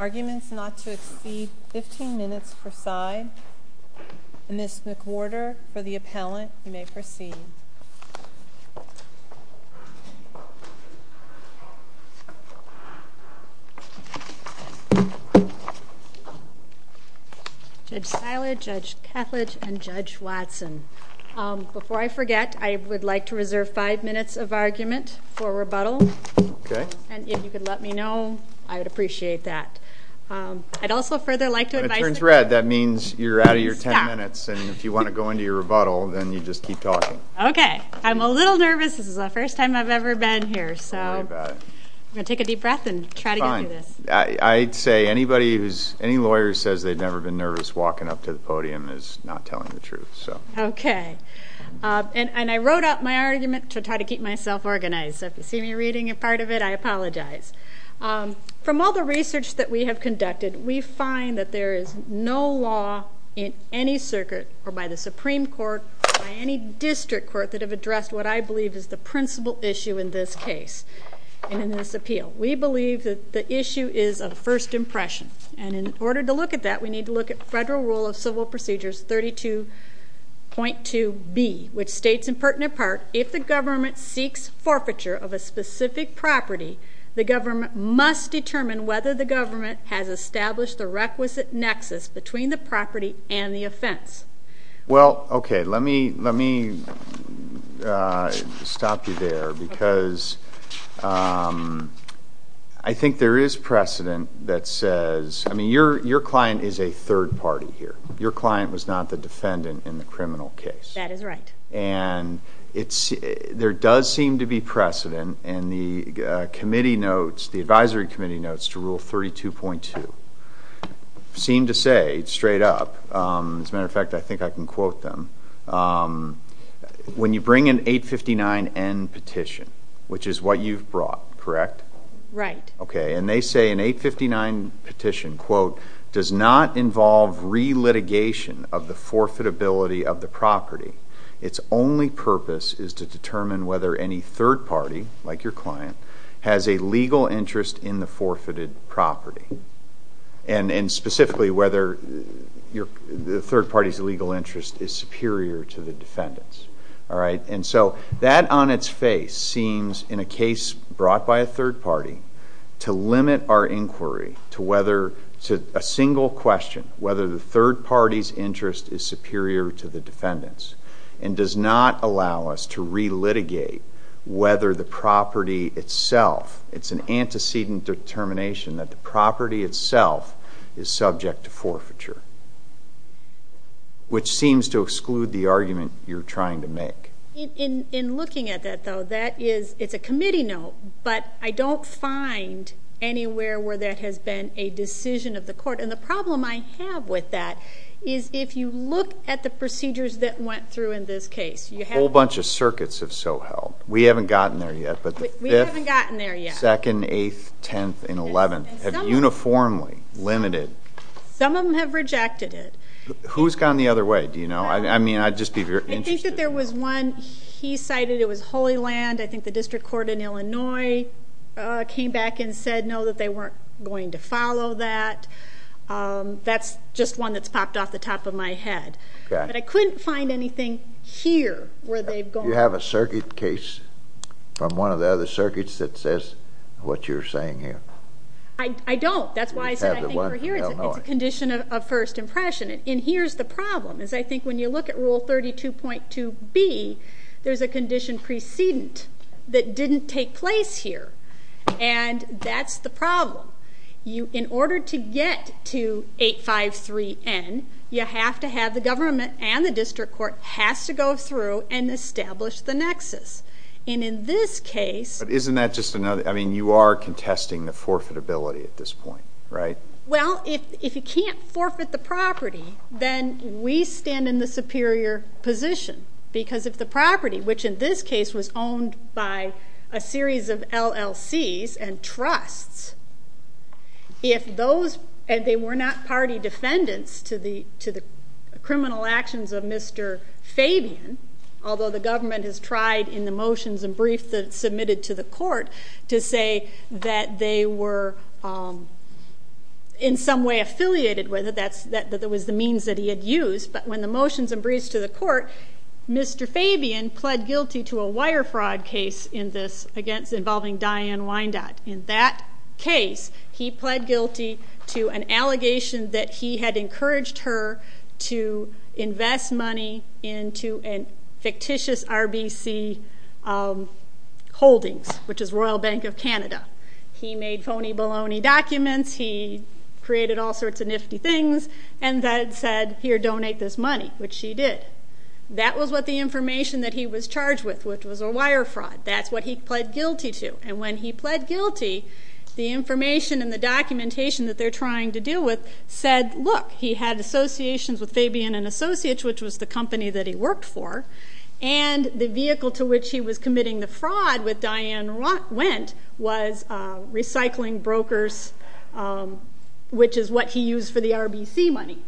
arguments not to exceed 15 minutes per side. Ms. McWhorter, for the appellant, you may proceed. Judge Siler, Judge Kethledge, and Judge Watson. Before I forget, I would like to reserve five minutes of argument for rebuttal. If you could let me know, I would appreciate that. When it turns red, that means you're out of your ten minutes, and if you want to go into your rebuttal, then you just keep talking. Okay, I'm a little nervous. This is the first time I've ever been here, so I'm going to take a deep breath and try to get through this. I'd say anybody who's, any lawyer who says they've never been nervous walking up to the podium is not telling the truth. Okay, and I wrote out my argument to try to keep myself organized, so if you see me reading a part of it, I apologize. From all the research that we have conducted, we find that there is no law in any circuit, or by the Supreme Court, or by any district court, that have addressed what I believe is the principal issue in this case and in this appeal. We believe that the issue is of first impression, and in order to look at that, we need to look at Federal Rule of Civil Procedures 32.2b, which states in pertinent part, if the government seeks forfeiture of a specific property, the government must determine whether the government has established the requisite nexus between the property and the offense. Well, okay, let me stop you there, because I think there is precedent that says, I mean, your client is a third party here. Your client was not the defendant in the criminal case. That is right. And there does seem to be precedent, and the committee notes, the advisory committee notes to Rule 32.2 seem to say, straight up, as a matter of fact, I think I can quote them, when you bring an 859N petition, which is what you've brought, correct? Right. Okay, and they say an 859 petition, quote, does not involve re-litigation of the forfeitability of the property. Its only purpose is to determine whether any third party, like your client, has a legal interest in the forfeited property, and specifically whether the third party's legal interest is superior to the defendant's. All right, and so that on its face seems, in a case brought by a third party, to limit our inquiry to a single question, whether the third party's interest is superior to the defendant's, and does not allow us to re-litigate whether the property itself, it's an antecedent determination that the property itself is subject to forfeiture, which seems to exclude the argument you're trying to make. In looking at that, though, that is, it's a committee note, but I don't find anywhere where that has been a decision of the court, and the problem I have with that is if you look at the procedures that went through in this case. A whole bunch of circuits have so held. We haven't gotten there yet, but the 5th, 2nd, 8th, 10th, and 11th have uniformly limited. Some of them have rejected it. Who's gone the other way, do you know? I mean, I'd just be very interested to know. I think that there was one, he cited, it was Holy Land. I think the district court in Illinois came back and said no, that they weren't going to follow that. That's just one that's popped off the top of my head, but I couldn't find anything here where they've gone. Do you have a circuit case from one of the other circuits that says what you're saying here? I don't. That's why I said I think we're here. It's a condition of first impression, and here's the problem. I think when you look at Rule 32.2B, there's a condition precedent that didn't take place here, and that's the problem. In order to get to 853N, you have to have the government and the district court has to go through and establish the nexus, and in this case... But isn't that just another, I mean, you are contesting the forfeitability at this point, right? Well, if you can't forfeit the property, then we stand in the superior position, because if the property, which in this case was owned by a series of LLCs and trusts, if those, and they were not party defendants to the criminal actions of Mr. Fabian, although the government has tried in the motions and briefs that it submitted to the court to say that they were in some way affiliated with it, that that was the means that he had used, but when the motions and briefs to the court, Mr. Fabian pled guilty to a wire fraud case in this involving Diane Wyandotte. In that case, he pled guilty to an allegation that he had encouraged her to invest money into a fictitious RBC holdings, which is Royal Bank of Canada. He made phony baloney documents, he created all sorts of nifty things, and then said, here, donate this money, which she did. That was what the information that he was charged with, which was a wire fraud. That's what he pled guilty to, and when he pled guilty, the information and the documentation that they're trying to deal with said, look, he had associations with Fabian and Associates, which was the company that he worked for, and the vehicle to which he was committing the fraud with Diane Wyandotte was recycling brokers, which is what he used for the RBC money.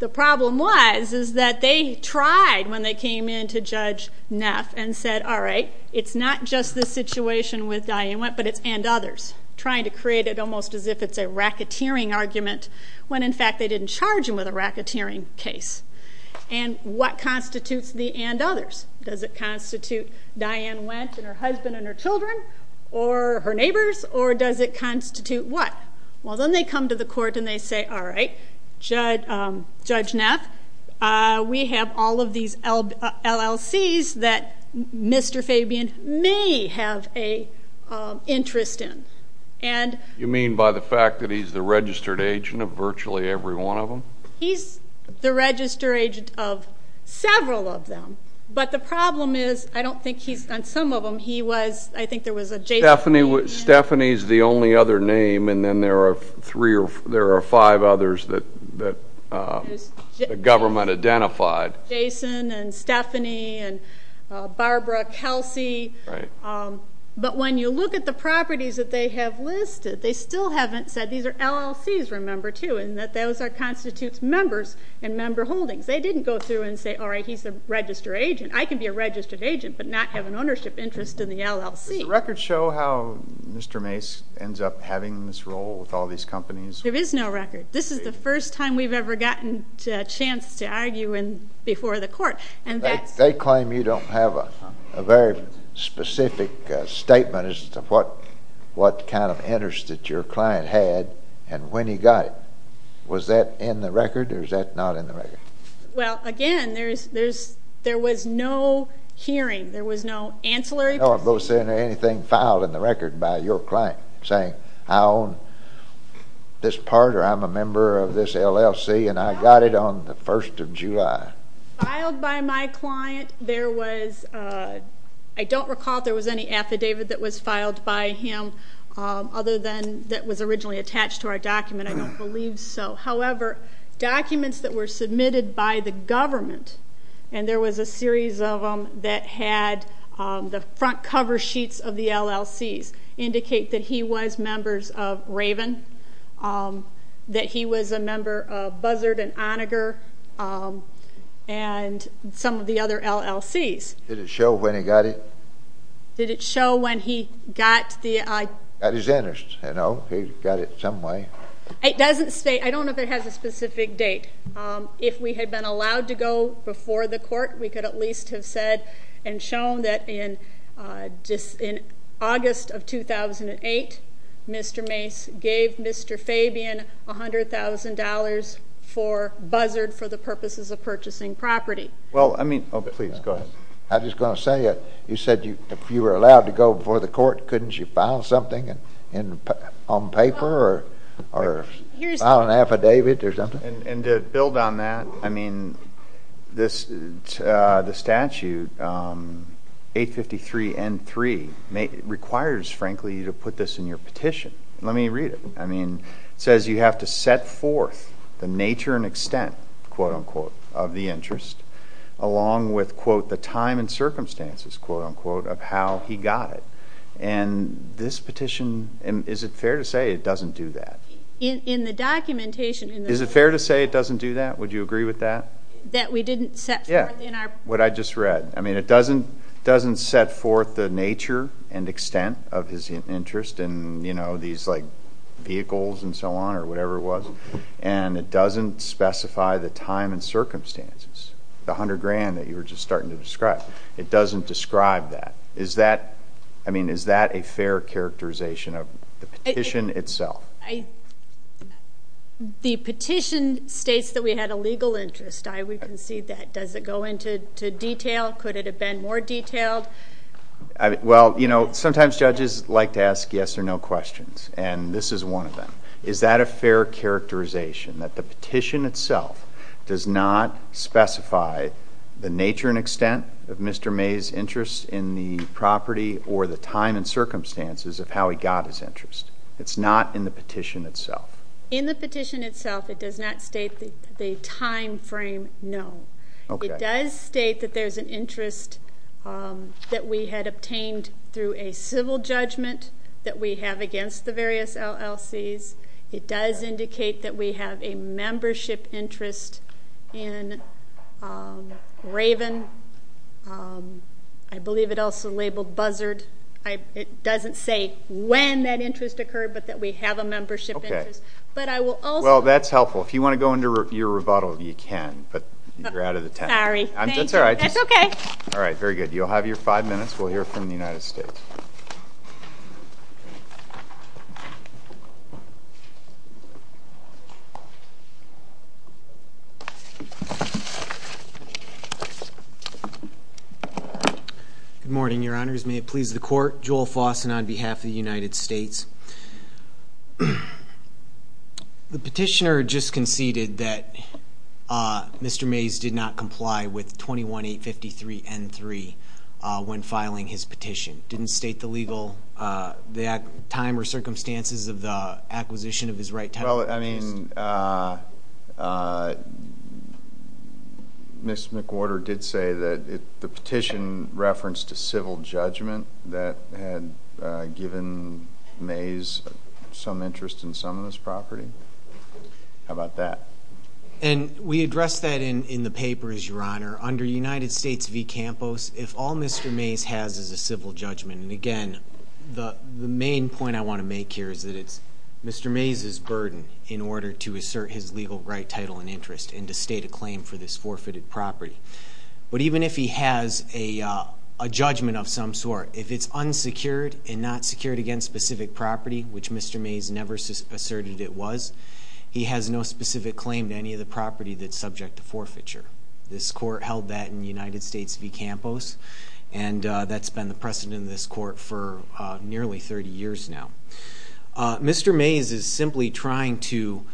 The problem was is that they tried when they came in to Judge Neff and said, all right, it's not just this situation with Diane Wyandotte, but it's and others, trying to create it almost as if it's a racketeering argument, when in fact they didn't charge him with a racketeering case. And what constitutes the and others? Does it constitute Diane Wyandotte and her husband and her children, or her neighbors, or does it constitute what? Well, then they come to the court and they say, all right, Judge Neff, we have all of these LLCs that Mr. Fabian may have an interest in. You mean by the fact that he's the registered agent of virtually every one of them? He's the registered agent of several of them, but the problem is I don't think he's on some of them. Stephanie's the only other name, and then there are five others that the government identified. Jason and Stephanie and Barbara, Kelsey. But when you look at the properties that they have listed, they still haven't said these are LLCs, remember, too, and that those constitute members and member holdings. They didn't go through and say, all right, he's a registered agent. But not have an ownership interest in the LLC. Does the record show how Mr. Mace ends up having this role with all these companies? There is no record. This is the first time we've ever gotten a chance to argue before the court. They claim you don't have a very specific statement as to what kind of interest that your client had and when he got it. Was that in the record, or is that not in the record? Well, again, there was no hearing. There was no ancillary. No, I'm both saying anything filed in the record by your client saying I own this part or I'm a member of this LLC, and I got it on the 1st of July. Filed by my client, there was, I don't recall if there was any affidavit that was filed by him other than that was originally attached to our document. I don't believe so. However, documents that were submitted by the government, and there was a series of them that had the front cover sheets of the LLCs, indicate that he was members of Raven, that he was a member of Buzzard and Onager, and some of the other LLCs. Did it show when he got it? Did it show when he got the... Got his interest, you know? He got it some way. It doesn't say. I don't know if it has a specific date. If we had been allowed to go before the court, we could at least have said and shown that in August of 2008, Mr. Mace gave Mr. Fabian $100,000 for Buzzard for the purposes of purchasing property. Well, I mean... Oh, please, go ahead. I was just going to say, you said if you were allowed to go before the court, couldn't you file something on paper or file an affidavit or something? And to build on that, I mean, the statute 853N3 requires, frankly, you to put this in your petition. Let me read it. It says you have to set forth the nature and extent, quote-unquote, of the interest, along with, quote, the time and circumstances, quote-unquote, of how he got it. And this petition, is it fair to say it doesn't do that? In the documentation... Is it fair to say it doesn't do that? Would you agree with that? That we didn't set forth in our... Yeah, what I just read. I mean, it doesn't set forth the nature and extent of his interest in, you know, these, like, vehicles and so on or whatever it was, and it doesn't specify the time and circumstances, the $100,000 that you were just starting to describe. It doesn't describe that. Is that, I mean, is that a fair characterization of the petition itself? The petition states that we had a legal interest. I would concede that. Does it go into detail? Could it have been more detailed? Well, you know, sometimes judges like to ask yes or no questions, and this is one of them. Does it state the nature and extent of Mr. May's interest in the property or the time and circumstances of how he got his interest? It's not in the petition itself. In the petition itself, it does not state the time frame, no. It does state that there's an interest that we had obtained through a civil judgment that we have against the various LLCs. It does indicate that we have a membership interest in Raven. I believe it also labeled Buzzard. It doesn't say when that interest occurred, but that we have a membership interest. Okay. But I will also. Well, that's helpful. If you want to go into your rebuttal, you can, but you're out of the tent. Sorry. That's all right. That's okay. All right, very good. You'll have your five minutes. We'll hear from the United States. Thank you. Good morning, Your Honors. May it please the Court. Joel Fossen on behalf of the United States. The petitioner just conceded that Mr. Mays did not comply with 21-853-N-3 when filing his petition. Didn't state the legal time or circumstances of the acquisition of his right title. Well, I mean, Ms. McWhorter did say that the petition referenced a civil judgment that had given Mays some interest in some of his property. How about that? And we addressed that in the paper, Your Honor. Under United States v. Campos, if all Mr. Mays has is a civil judgment, and again, the main point I want to make here is that it's Mr. Mays' burden in order to assert his legal right title and interest and to state a claim for this forfeited property. But even if he has a judgment of some sort, if it's unsecured and not secured against specific property, which Mr. Mays never asserted it was, he has no specific claim to any of the property that's subject to forfeiture. This court held that in United States v. Campos, and that's been the precedent in this court for nearly 30 years now. Mr. Mays is simply trying to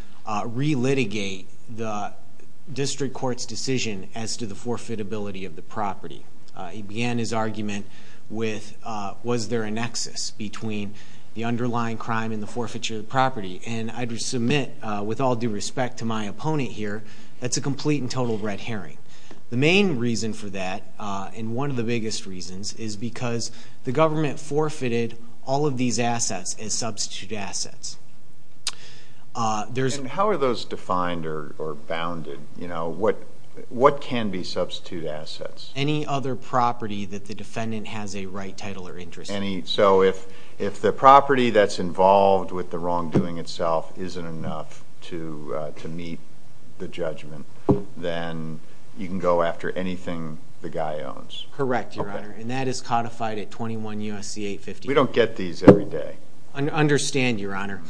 re-litigate the district court's decision as to the forfeitability of the property. He began his argument with, was there a nexus between the underlying crime and the forfeiture of the property? And I'd submit, with all due respect to my opponent here, that's a complete and total red herring. The main reason for that, and one of the biggest reasons, is because the government forfeited all of these assets as substitute assets. And how are those defined or bounded? What can be substitute assets? Any other property that the defendant has a right title or interest in. So if the property that's involved with the wrongdoing itself isn't enough to meet the judgment, then you can go after anything the guy owns? Correct, Your Honor. And that is codified at 21 U.S.C. 850. We don't get these every day. I understand, Your Honor.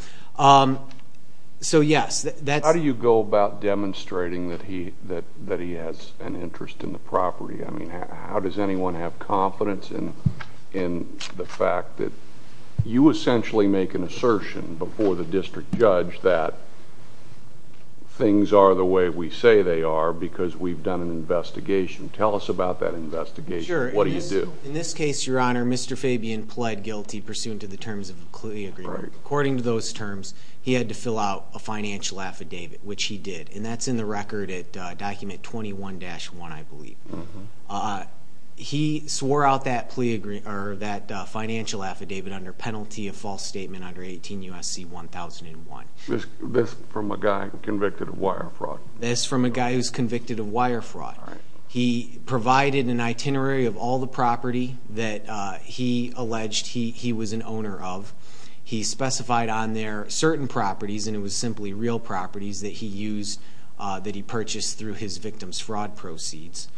So yes, that's How do you go about demonstrating that he has an interest in the property? I mean, how does anyone have confidence in the fact that you essentially make an assertion before the district judge that things are the way we say they are because we've done an investigation? Tell us about that investigation. Sure. What do you do? In this case, Your Honor, Mr. Fabian pled guilty pursuant to the terms of the clear agreement. According to those terms, he had to fill out a financial affidavit, which he did. And that's in the record at document 21-1, I believe. He swore out that financial affidavit under penalty of false statement under 18 U.S.C. 1001. This from a guy convicted of wire fraud? This from a guy who's convicted of wire fraud. He provided an itinerary of all the property that he alleged he was an owner of. He specified on there certain properties, and it was simply real properties that he used that he purchased through his victim's fraud proceeds.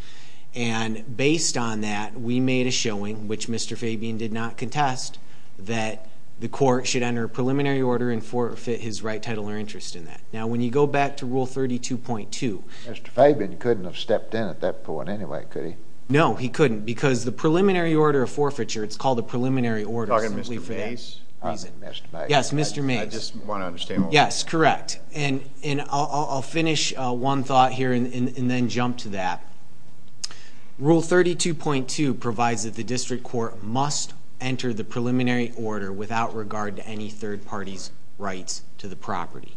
And based on that, we made a showing, which Mr. Fabian did not contest, that the court should enter a preliminary order and forfeit his right, title, or interest in that. Now, when you go back to Rule 32.2 Mr. Fabian couldn't have stepped in at that point anyway, could he? No, he couldn't because the preliminary order of forfeiture, it's called a preliminary order simply for that. Yes, Mr. Mays. I just want to understand. Yes, correct. And I'll finish one thought here and then jump to that. Rule 32.2 provides that the district court must enter the preliminary order without regard to any third party's rights to the property.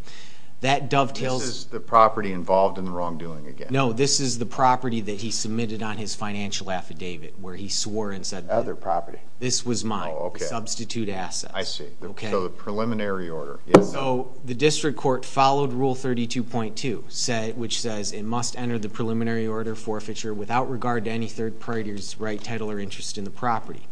This is the property involved in the wrongdoing again? No, this is the property that he submitted on his financial affidavit where he swore and said that. Other property. This was mine. Substitute assets. I see. Okay. So the preliminary order. So the district court followed Rule 32.2, which says it must enter the preliminary order forfeiture without regard to any third party's right, title, or interest in the property.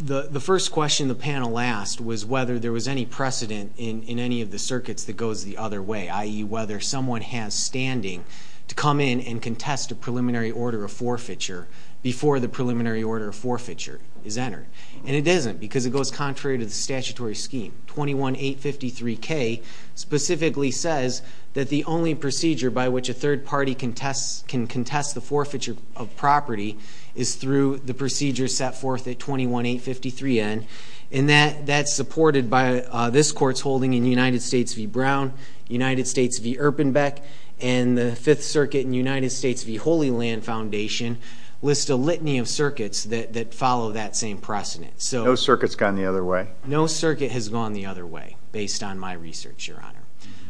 The first question the panel asked was whether there was any precedent in any of the circuits that goes the other way, i.e., whether someone has standing to come in and contest a preliminary order of forfeiture before the preliminary order of forfeiture is entered. And it isn't because it goes contrary to the statutory scheme. 21-853-K specifically says that the only procedure by which a third party can contest the forfeiture of property is through the procedure set forth at 21-853-N, and that's supported by this court's holding in United States v. Brown, United States v. Erpenbeck, and the Fifth Circuit and United States v. Holy Land Foundation list a litany of circuits that follow that same precedent. No circuit's gone the other way? No circuit has gone the other way, based on my research, Your Honor.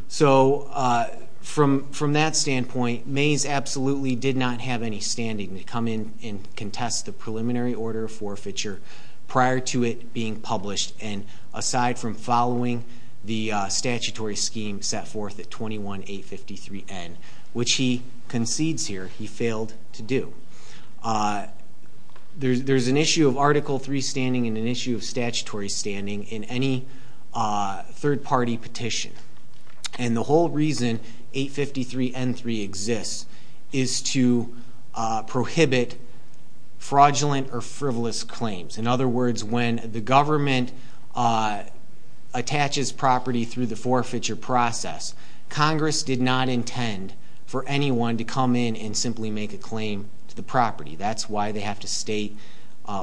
So from that standpoint, Mays absolutely did not have any standing to come in and contest the preliminary order of forfeiture prior to it being published, and aside from following the statutory scheme set forth at 21-853-N, which he concedes here he failed to do. There's an issue of Article III standing and an issue of statutory standing in any third party petition, and the whole reason 853-N-3 exists is to prohibit fraudulent or frivolous claims. In other words, when the government attaches property through the forfeiture process, Congress did not intend for anyone to come in and simply make a claim to the property. That's why they have to state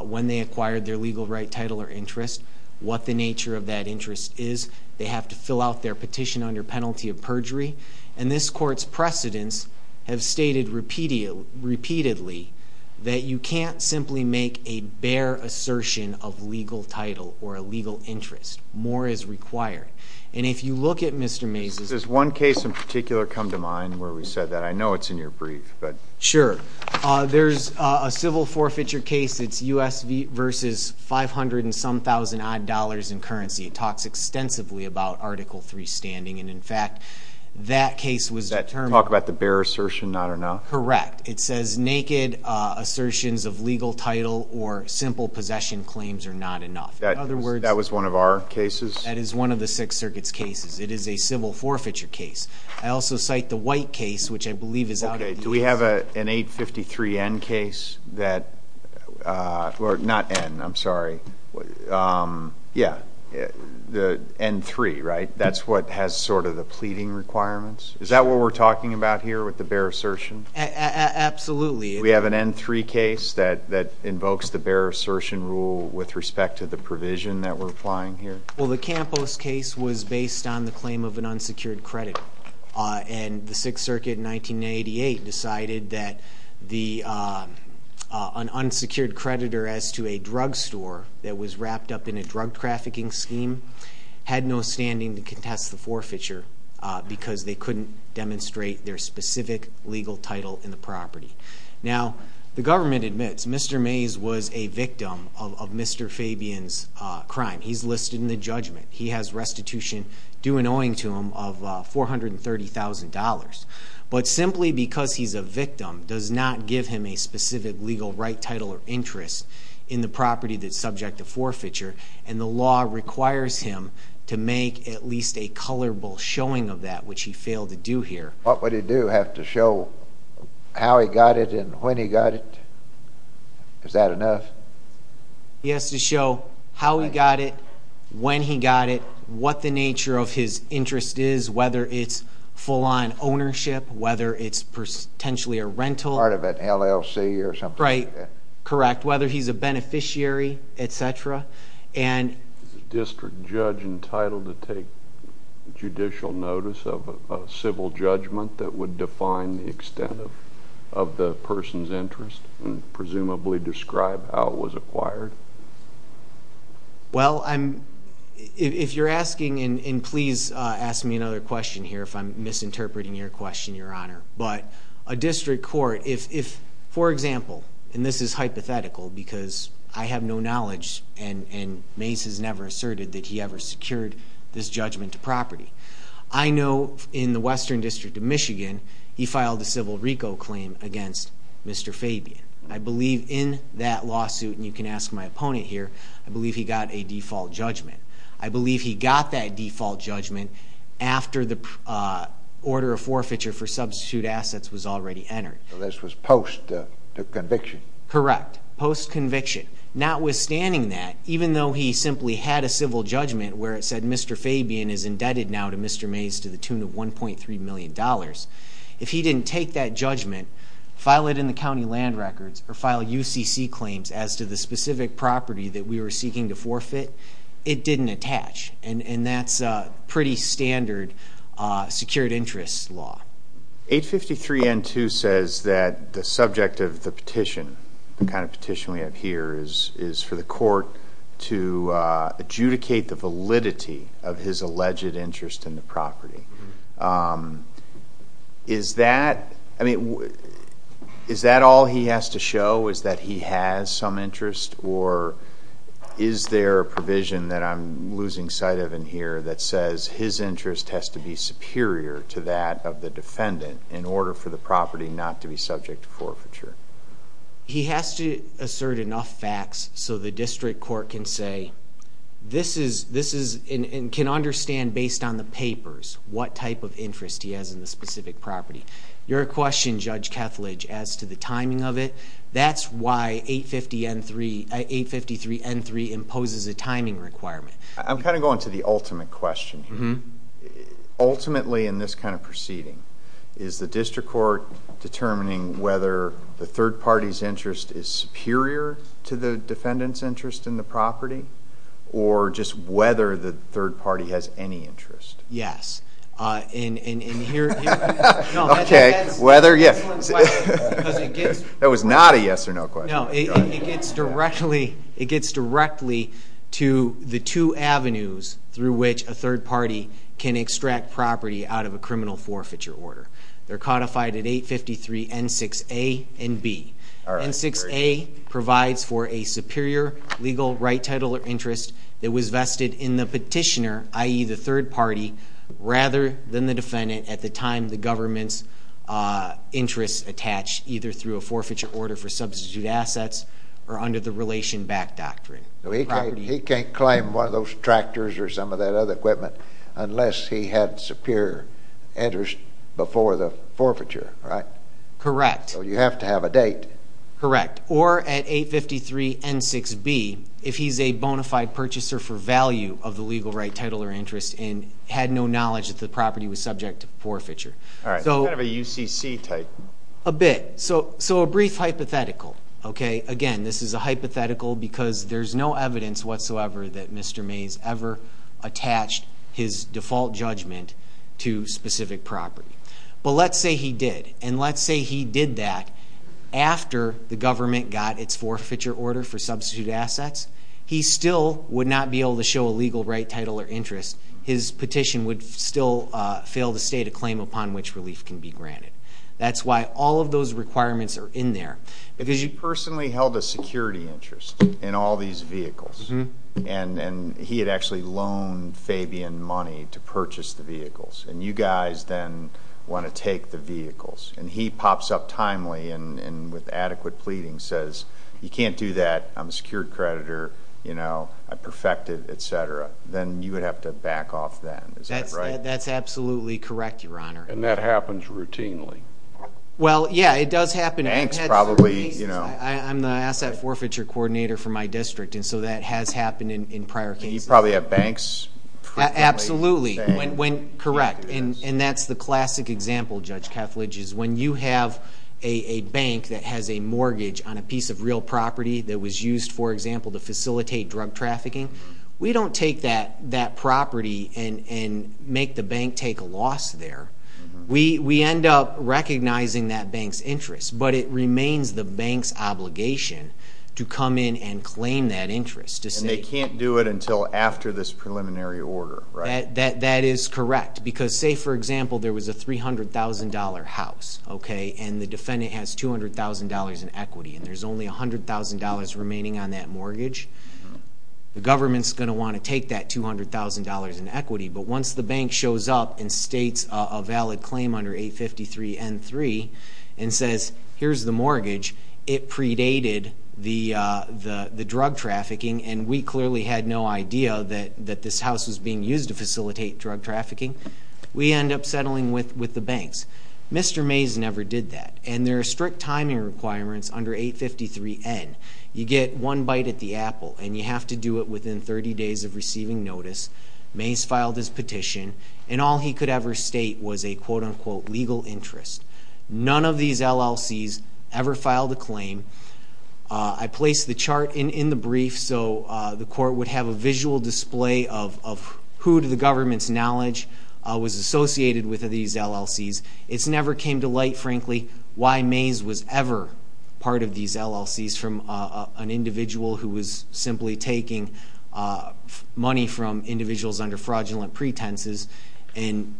when they acquired their legal right, title, or interest, what the nature of that interest is. They have to fill out their petition under penalty of perjury, and this court's precedents have stated repeatedly that you can't simply make a bare assertion of legal title or a legal interest. More is required, and if you look at Mr. Mays's... Does one case in particular come to mind where we said that? I know it's in your brief, but... Sure. There's a civil forfeiture case. It's U.S. v. 500-and-some-thousand-odd dollars in currency. It talks extensively about Article III standing, and, in fact, that case was determined... Did that talk about the bare assertion, not enough? Correct. It says naked assertions of legal title or simple possession claims are not enough. In other words... That was one of our cases? That is one of the Sixth Circuit's cases. It is a civil forfeiture case. I also cite the White case, which I believe is out of the U.S. Okay. Do we have an 853-N case that... Not N, I'm sorry. Yeah. The N-3, right? That's what has sort of the pleading requirements? Is that what we're talking about here with the bare assertion? Absolutely. Do we have an N-3 case that invokes the bare assertion rule with respect to the provision that we're applying here? Well, the Campos case was based on the claim of an unsecured creditor, and the Sixth Circuit in 1988 decided that an unsecured creditor as to a drugstore that was wrapped up in a drug trafficking scheme had no standing to contest the forfeiture because they couldn't demonstrate their specific legal title in the property. Now, the government admits Mr. Mays was a victim of Mr. Fabian's crime. He's listed in the judgment. He has restitution due and owing to him of $430,000. But simply because he's a victim does not give him a specific legal right, title, or interest in the property that's subject to forfeiture, and the law requires him to make at least a colorful showing of that, which he failed to do here. What would he do? Have to show how he got it and when he got it? Is that enough? He has to show how he got it, when he got it, what the nature of his interest is, whether it's full-on ownership, whether it's potentially a rental. Part of an LLC or something like that. Right. Correct. Whether he's a beneficiary, et cetera. Is a district judge entitled to take judicial notice of a civil judgment that would define the extent of the person's interest and presumably describe how it was acquired? Well, if you're asking, and please ask me another question here if I'm misinterpreting your question, Your Honor, but a district court, if, for example, and this is hypothetical because I have no knowledge and Mace has never asserted that he ever secured this judgment to property, I know in the Western District of Michigan he filed a civil RICO claim against Mr. Fabian. I believe in that lawsuit, and you can ask my opponent here, I believe he got a default judgment. I believe he got that default judgment after the order of forfeiture for substitute assets was already entered. So this was post conviction? Correct. Post conviction. Notwithstanding that, even though he simply had a civil judgment where it said Mr. Fabian is indebted now to Mr. Mace to the tune of $1.3 million, if he didn't take that judgment, file it in the county land records or file UCC claims as to the specific property that we were seeking to forfeit, it didn't attach. And that's pretty standard secured interest law. 853 N2 says that the subject of the petition, the kind of petition we have here, is for the court to adjudicate the validity of his alleged interest in the property. Is that all he has to show, is that he has some interest, or is there a provision that I'm losing sight of in here that says his interest has to be superior to that of the defendant in order for the property not to be subject to forfeiture? He has to assert enough facts so the district court can say, and can understand based on the papers what type of interest he has in the specific property. Your question, Judge Kethledge, as to the timing of it, that's why 853 N3 imposes a timing requirement. I'm kind of going to the ultimate question here. Ultimately in this kind of proceeding, is the district court determining whether the third party's interest is superior to the defendant's interest in the property, or just whether the third party has any interest? Yes. Okay, whether? That was not a yes or no question. No, it gets directly to the two avenues through which a third party can extract property out of a criminal forfeiture order. They're codified at 853 N6A and B. N6A provides for a superior legal right title of interest that was vested in the petitioner, i.e., the third party, rather than the defendant at the time the government's interest attached, either through a forfeiture order for substitute assets or under the relation back doctrine. He can't claim one of those tractors or some of that other equipment unless he had superior interest before the forfeiture, right? Correct. So you have to have a date. Correct. Or at 853 N6B if he's a bona fide purchaser for value of the legal right title or interest and had no knowledge that the property was subject to forfeiture. All right. It's kind of a UCC type. A bit. So a brief hypothetical. Again, this is a hypothetical because there's no evidence whatsoever that Mr. Mays ever attached his default judgment to specific property. But let's say he did. And let's say he did that after the government got its forfeiture order for substitute assets. He still would not be able to show a legal right title or interest. His petition would still fail to state a claim upon which relief can be granted. That's why all of those requirements are in there. Because you personally held a security interest in all these vehicles. And he had actually loaned Fabian money to purchase the vehicles. And you guys then want to take the vehicles. And he pops up timely and with adequate pleading says, you can't do that. I'm a secured creditor. I perfected, et cetera. Then you would have to back off then. Is that right? That's absolutely correct, Your Honor. And that happens routinely. Well, yeah, it does happen. Banks probably. I'm the asset forfeiture coordinator for my district, and so that has happened in prior cases. You probably have banks. Absolutely. Correct. And that's the classic example, Judge Kethledge, is when you have a bank that has a mortgage on a piece of real property that was used, for example, to facilitate drug trafficking, we don't take that property and make the bank take a loss there. We end up recognizing that bank's interest. But it remains the bank's obligation to come in and claim that interest. And they can't do it until after this preliminary order, right? That is correct. Because, say, for example, there was a $300,000 house, okay, and the defendant has $200,000 in equity and there's only $100,000 remaining on that mortgage, the government's going to want to take that $200,000 in equity. But once the bank shows up and states a valid claim under 853N3 and says, here's the mortgage, it predated the drug trafficking, and we clearly had no idea that this house was being used to facilitate drug trafficking, we end up settling with the banks. Mr. Mays never did that. And there are strict timing requirements under 853N. You get one bite at the apple, and you have to do it within 30 days of receiving notice. Mays filed his petition, and all he could ever state was a, quote-unquote, legal interest. None of these LLCs ever filed a claim. I placed the chart in the brief so the court would have a visual display of who, to the government's knowledge, was associated with these LLCs. It never came to light, frankly, why Mays was ever part of these LLCs from an individual who was simply taking money from individuals under fraudulent pretenses and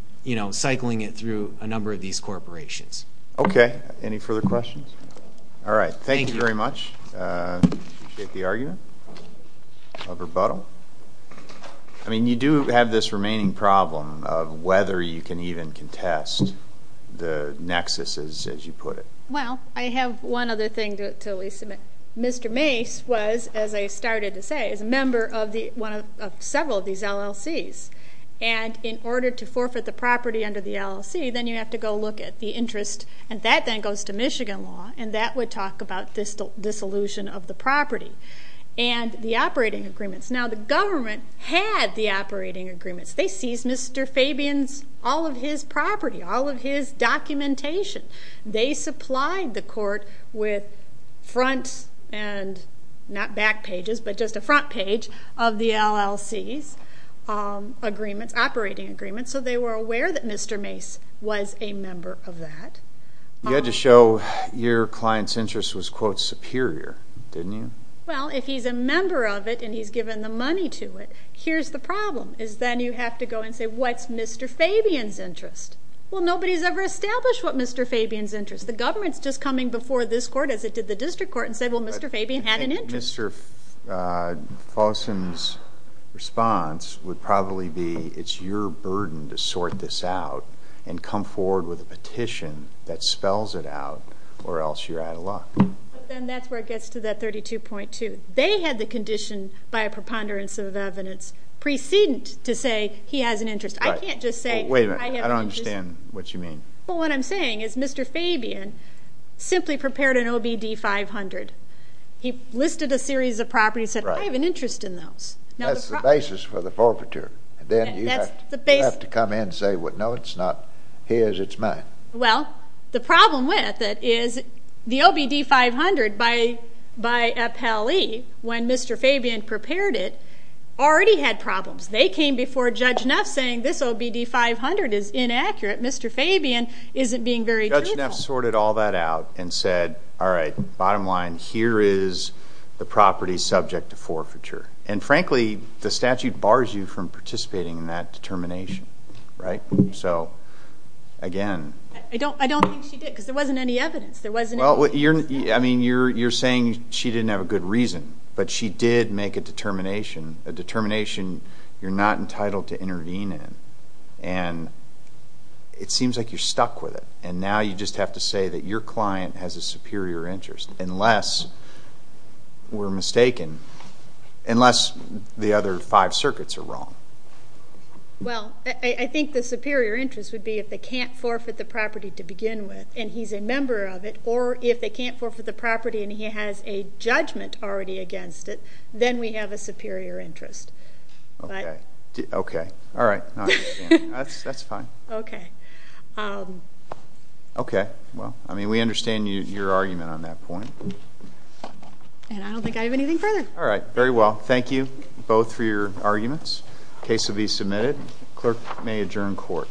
cycling it through a number of these corporations. Okay. Any further questions? All right. Thank you very much. Appreciate the argument. No rebuttal. I mean, you do have this remaining problem of whether you can even contest the nexuses, as you put it. Well, I have one other thing to at least submit. Mr. Mays was, as I started to say, is a member of several of these LLCs. And in order to forfeit the property under the LLC, then you have to go look at the interest, and that then goes to Michigan law, and that would talk about dissolution of the property and the operating agreements. Now, the government had the operating agreements. They seized Mr. Fabian's, all of his property, all of his documentation. They supplied the court with front and not back pages, but just a front page of the LLC's agreements, operating agreements, so they were aware that Mr. Mays was a member of that. You had to show your client's interest was, quote, superior, didn't you? Well, if he's a member of it and he's given the money to it, here's the problem, is then you have to go and say, What's Mr. Fabian's interest? Well, nobody's ever established what Mr. Fabian's interest. The government's just coming before this court, as it did the district court, and said, Well, Mr. Fabian had an interest. Mr. Folsom's response would probably be, It's your burden to sort this out and come forward with a petition that spells it out, or else you're out of luck. Then that's where it gets to that 32.2. They had the condition by a preponderance of evidence precedent to say he has an interest. I can't just say I have an interest. Wait a minute. I don't understand what you mean. Well, what I'm saying is Mr. Fabian simply prepared an OBD 500. He listed a series of properties and said, I have an interest in those. That's the basis for the forfeiture. Then you have to come in and say, No, it's not his, it's mine. Well, the problem with it is the OBD 500 by Appellee, when Mr. Fabian prepared it, already had problems. They came before Judge Neff saying, This OBD 500 is inaccurate. Mr. Fabian isn't being very truthful. So Judge Neff sorted all that out and said, All right, bottom line, here is the property subject to forfeiture. And, frankly, the statute bars you from participating in that determination, right? So, again. I don't think she did because there wasn't any evidence. I mean, you're saying she didn't have a good reason, but she did make a determination, a determination you're not entitled to intervene in. And it seems like you're stuck with it. And now you just have to say that your client has a superior interest, unless we're mistaken, unless the other five circuits are wrong. Well, I think the superior interest would be if they can't forfeit the property to begin with, and he's a member of it, or if they can't forfeit the property and he has a judgment already against it, then we have a superior interest. Okay. Okay. All right. That's fine. Okay. Okay. Well, I mean, we understand your argument on that point. And I don't think I have anything further. All right. Very well. Thank you both for your arguments. The case will be submitted. The clerk may adjourn court.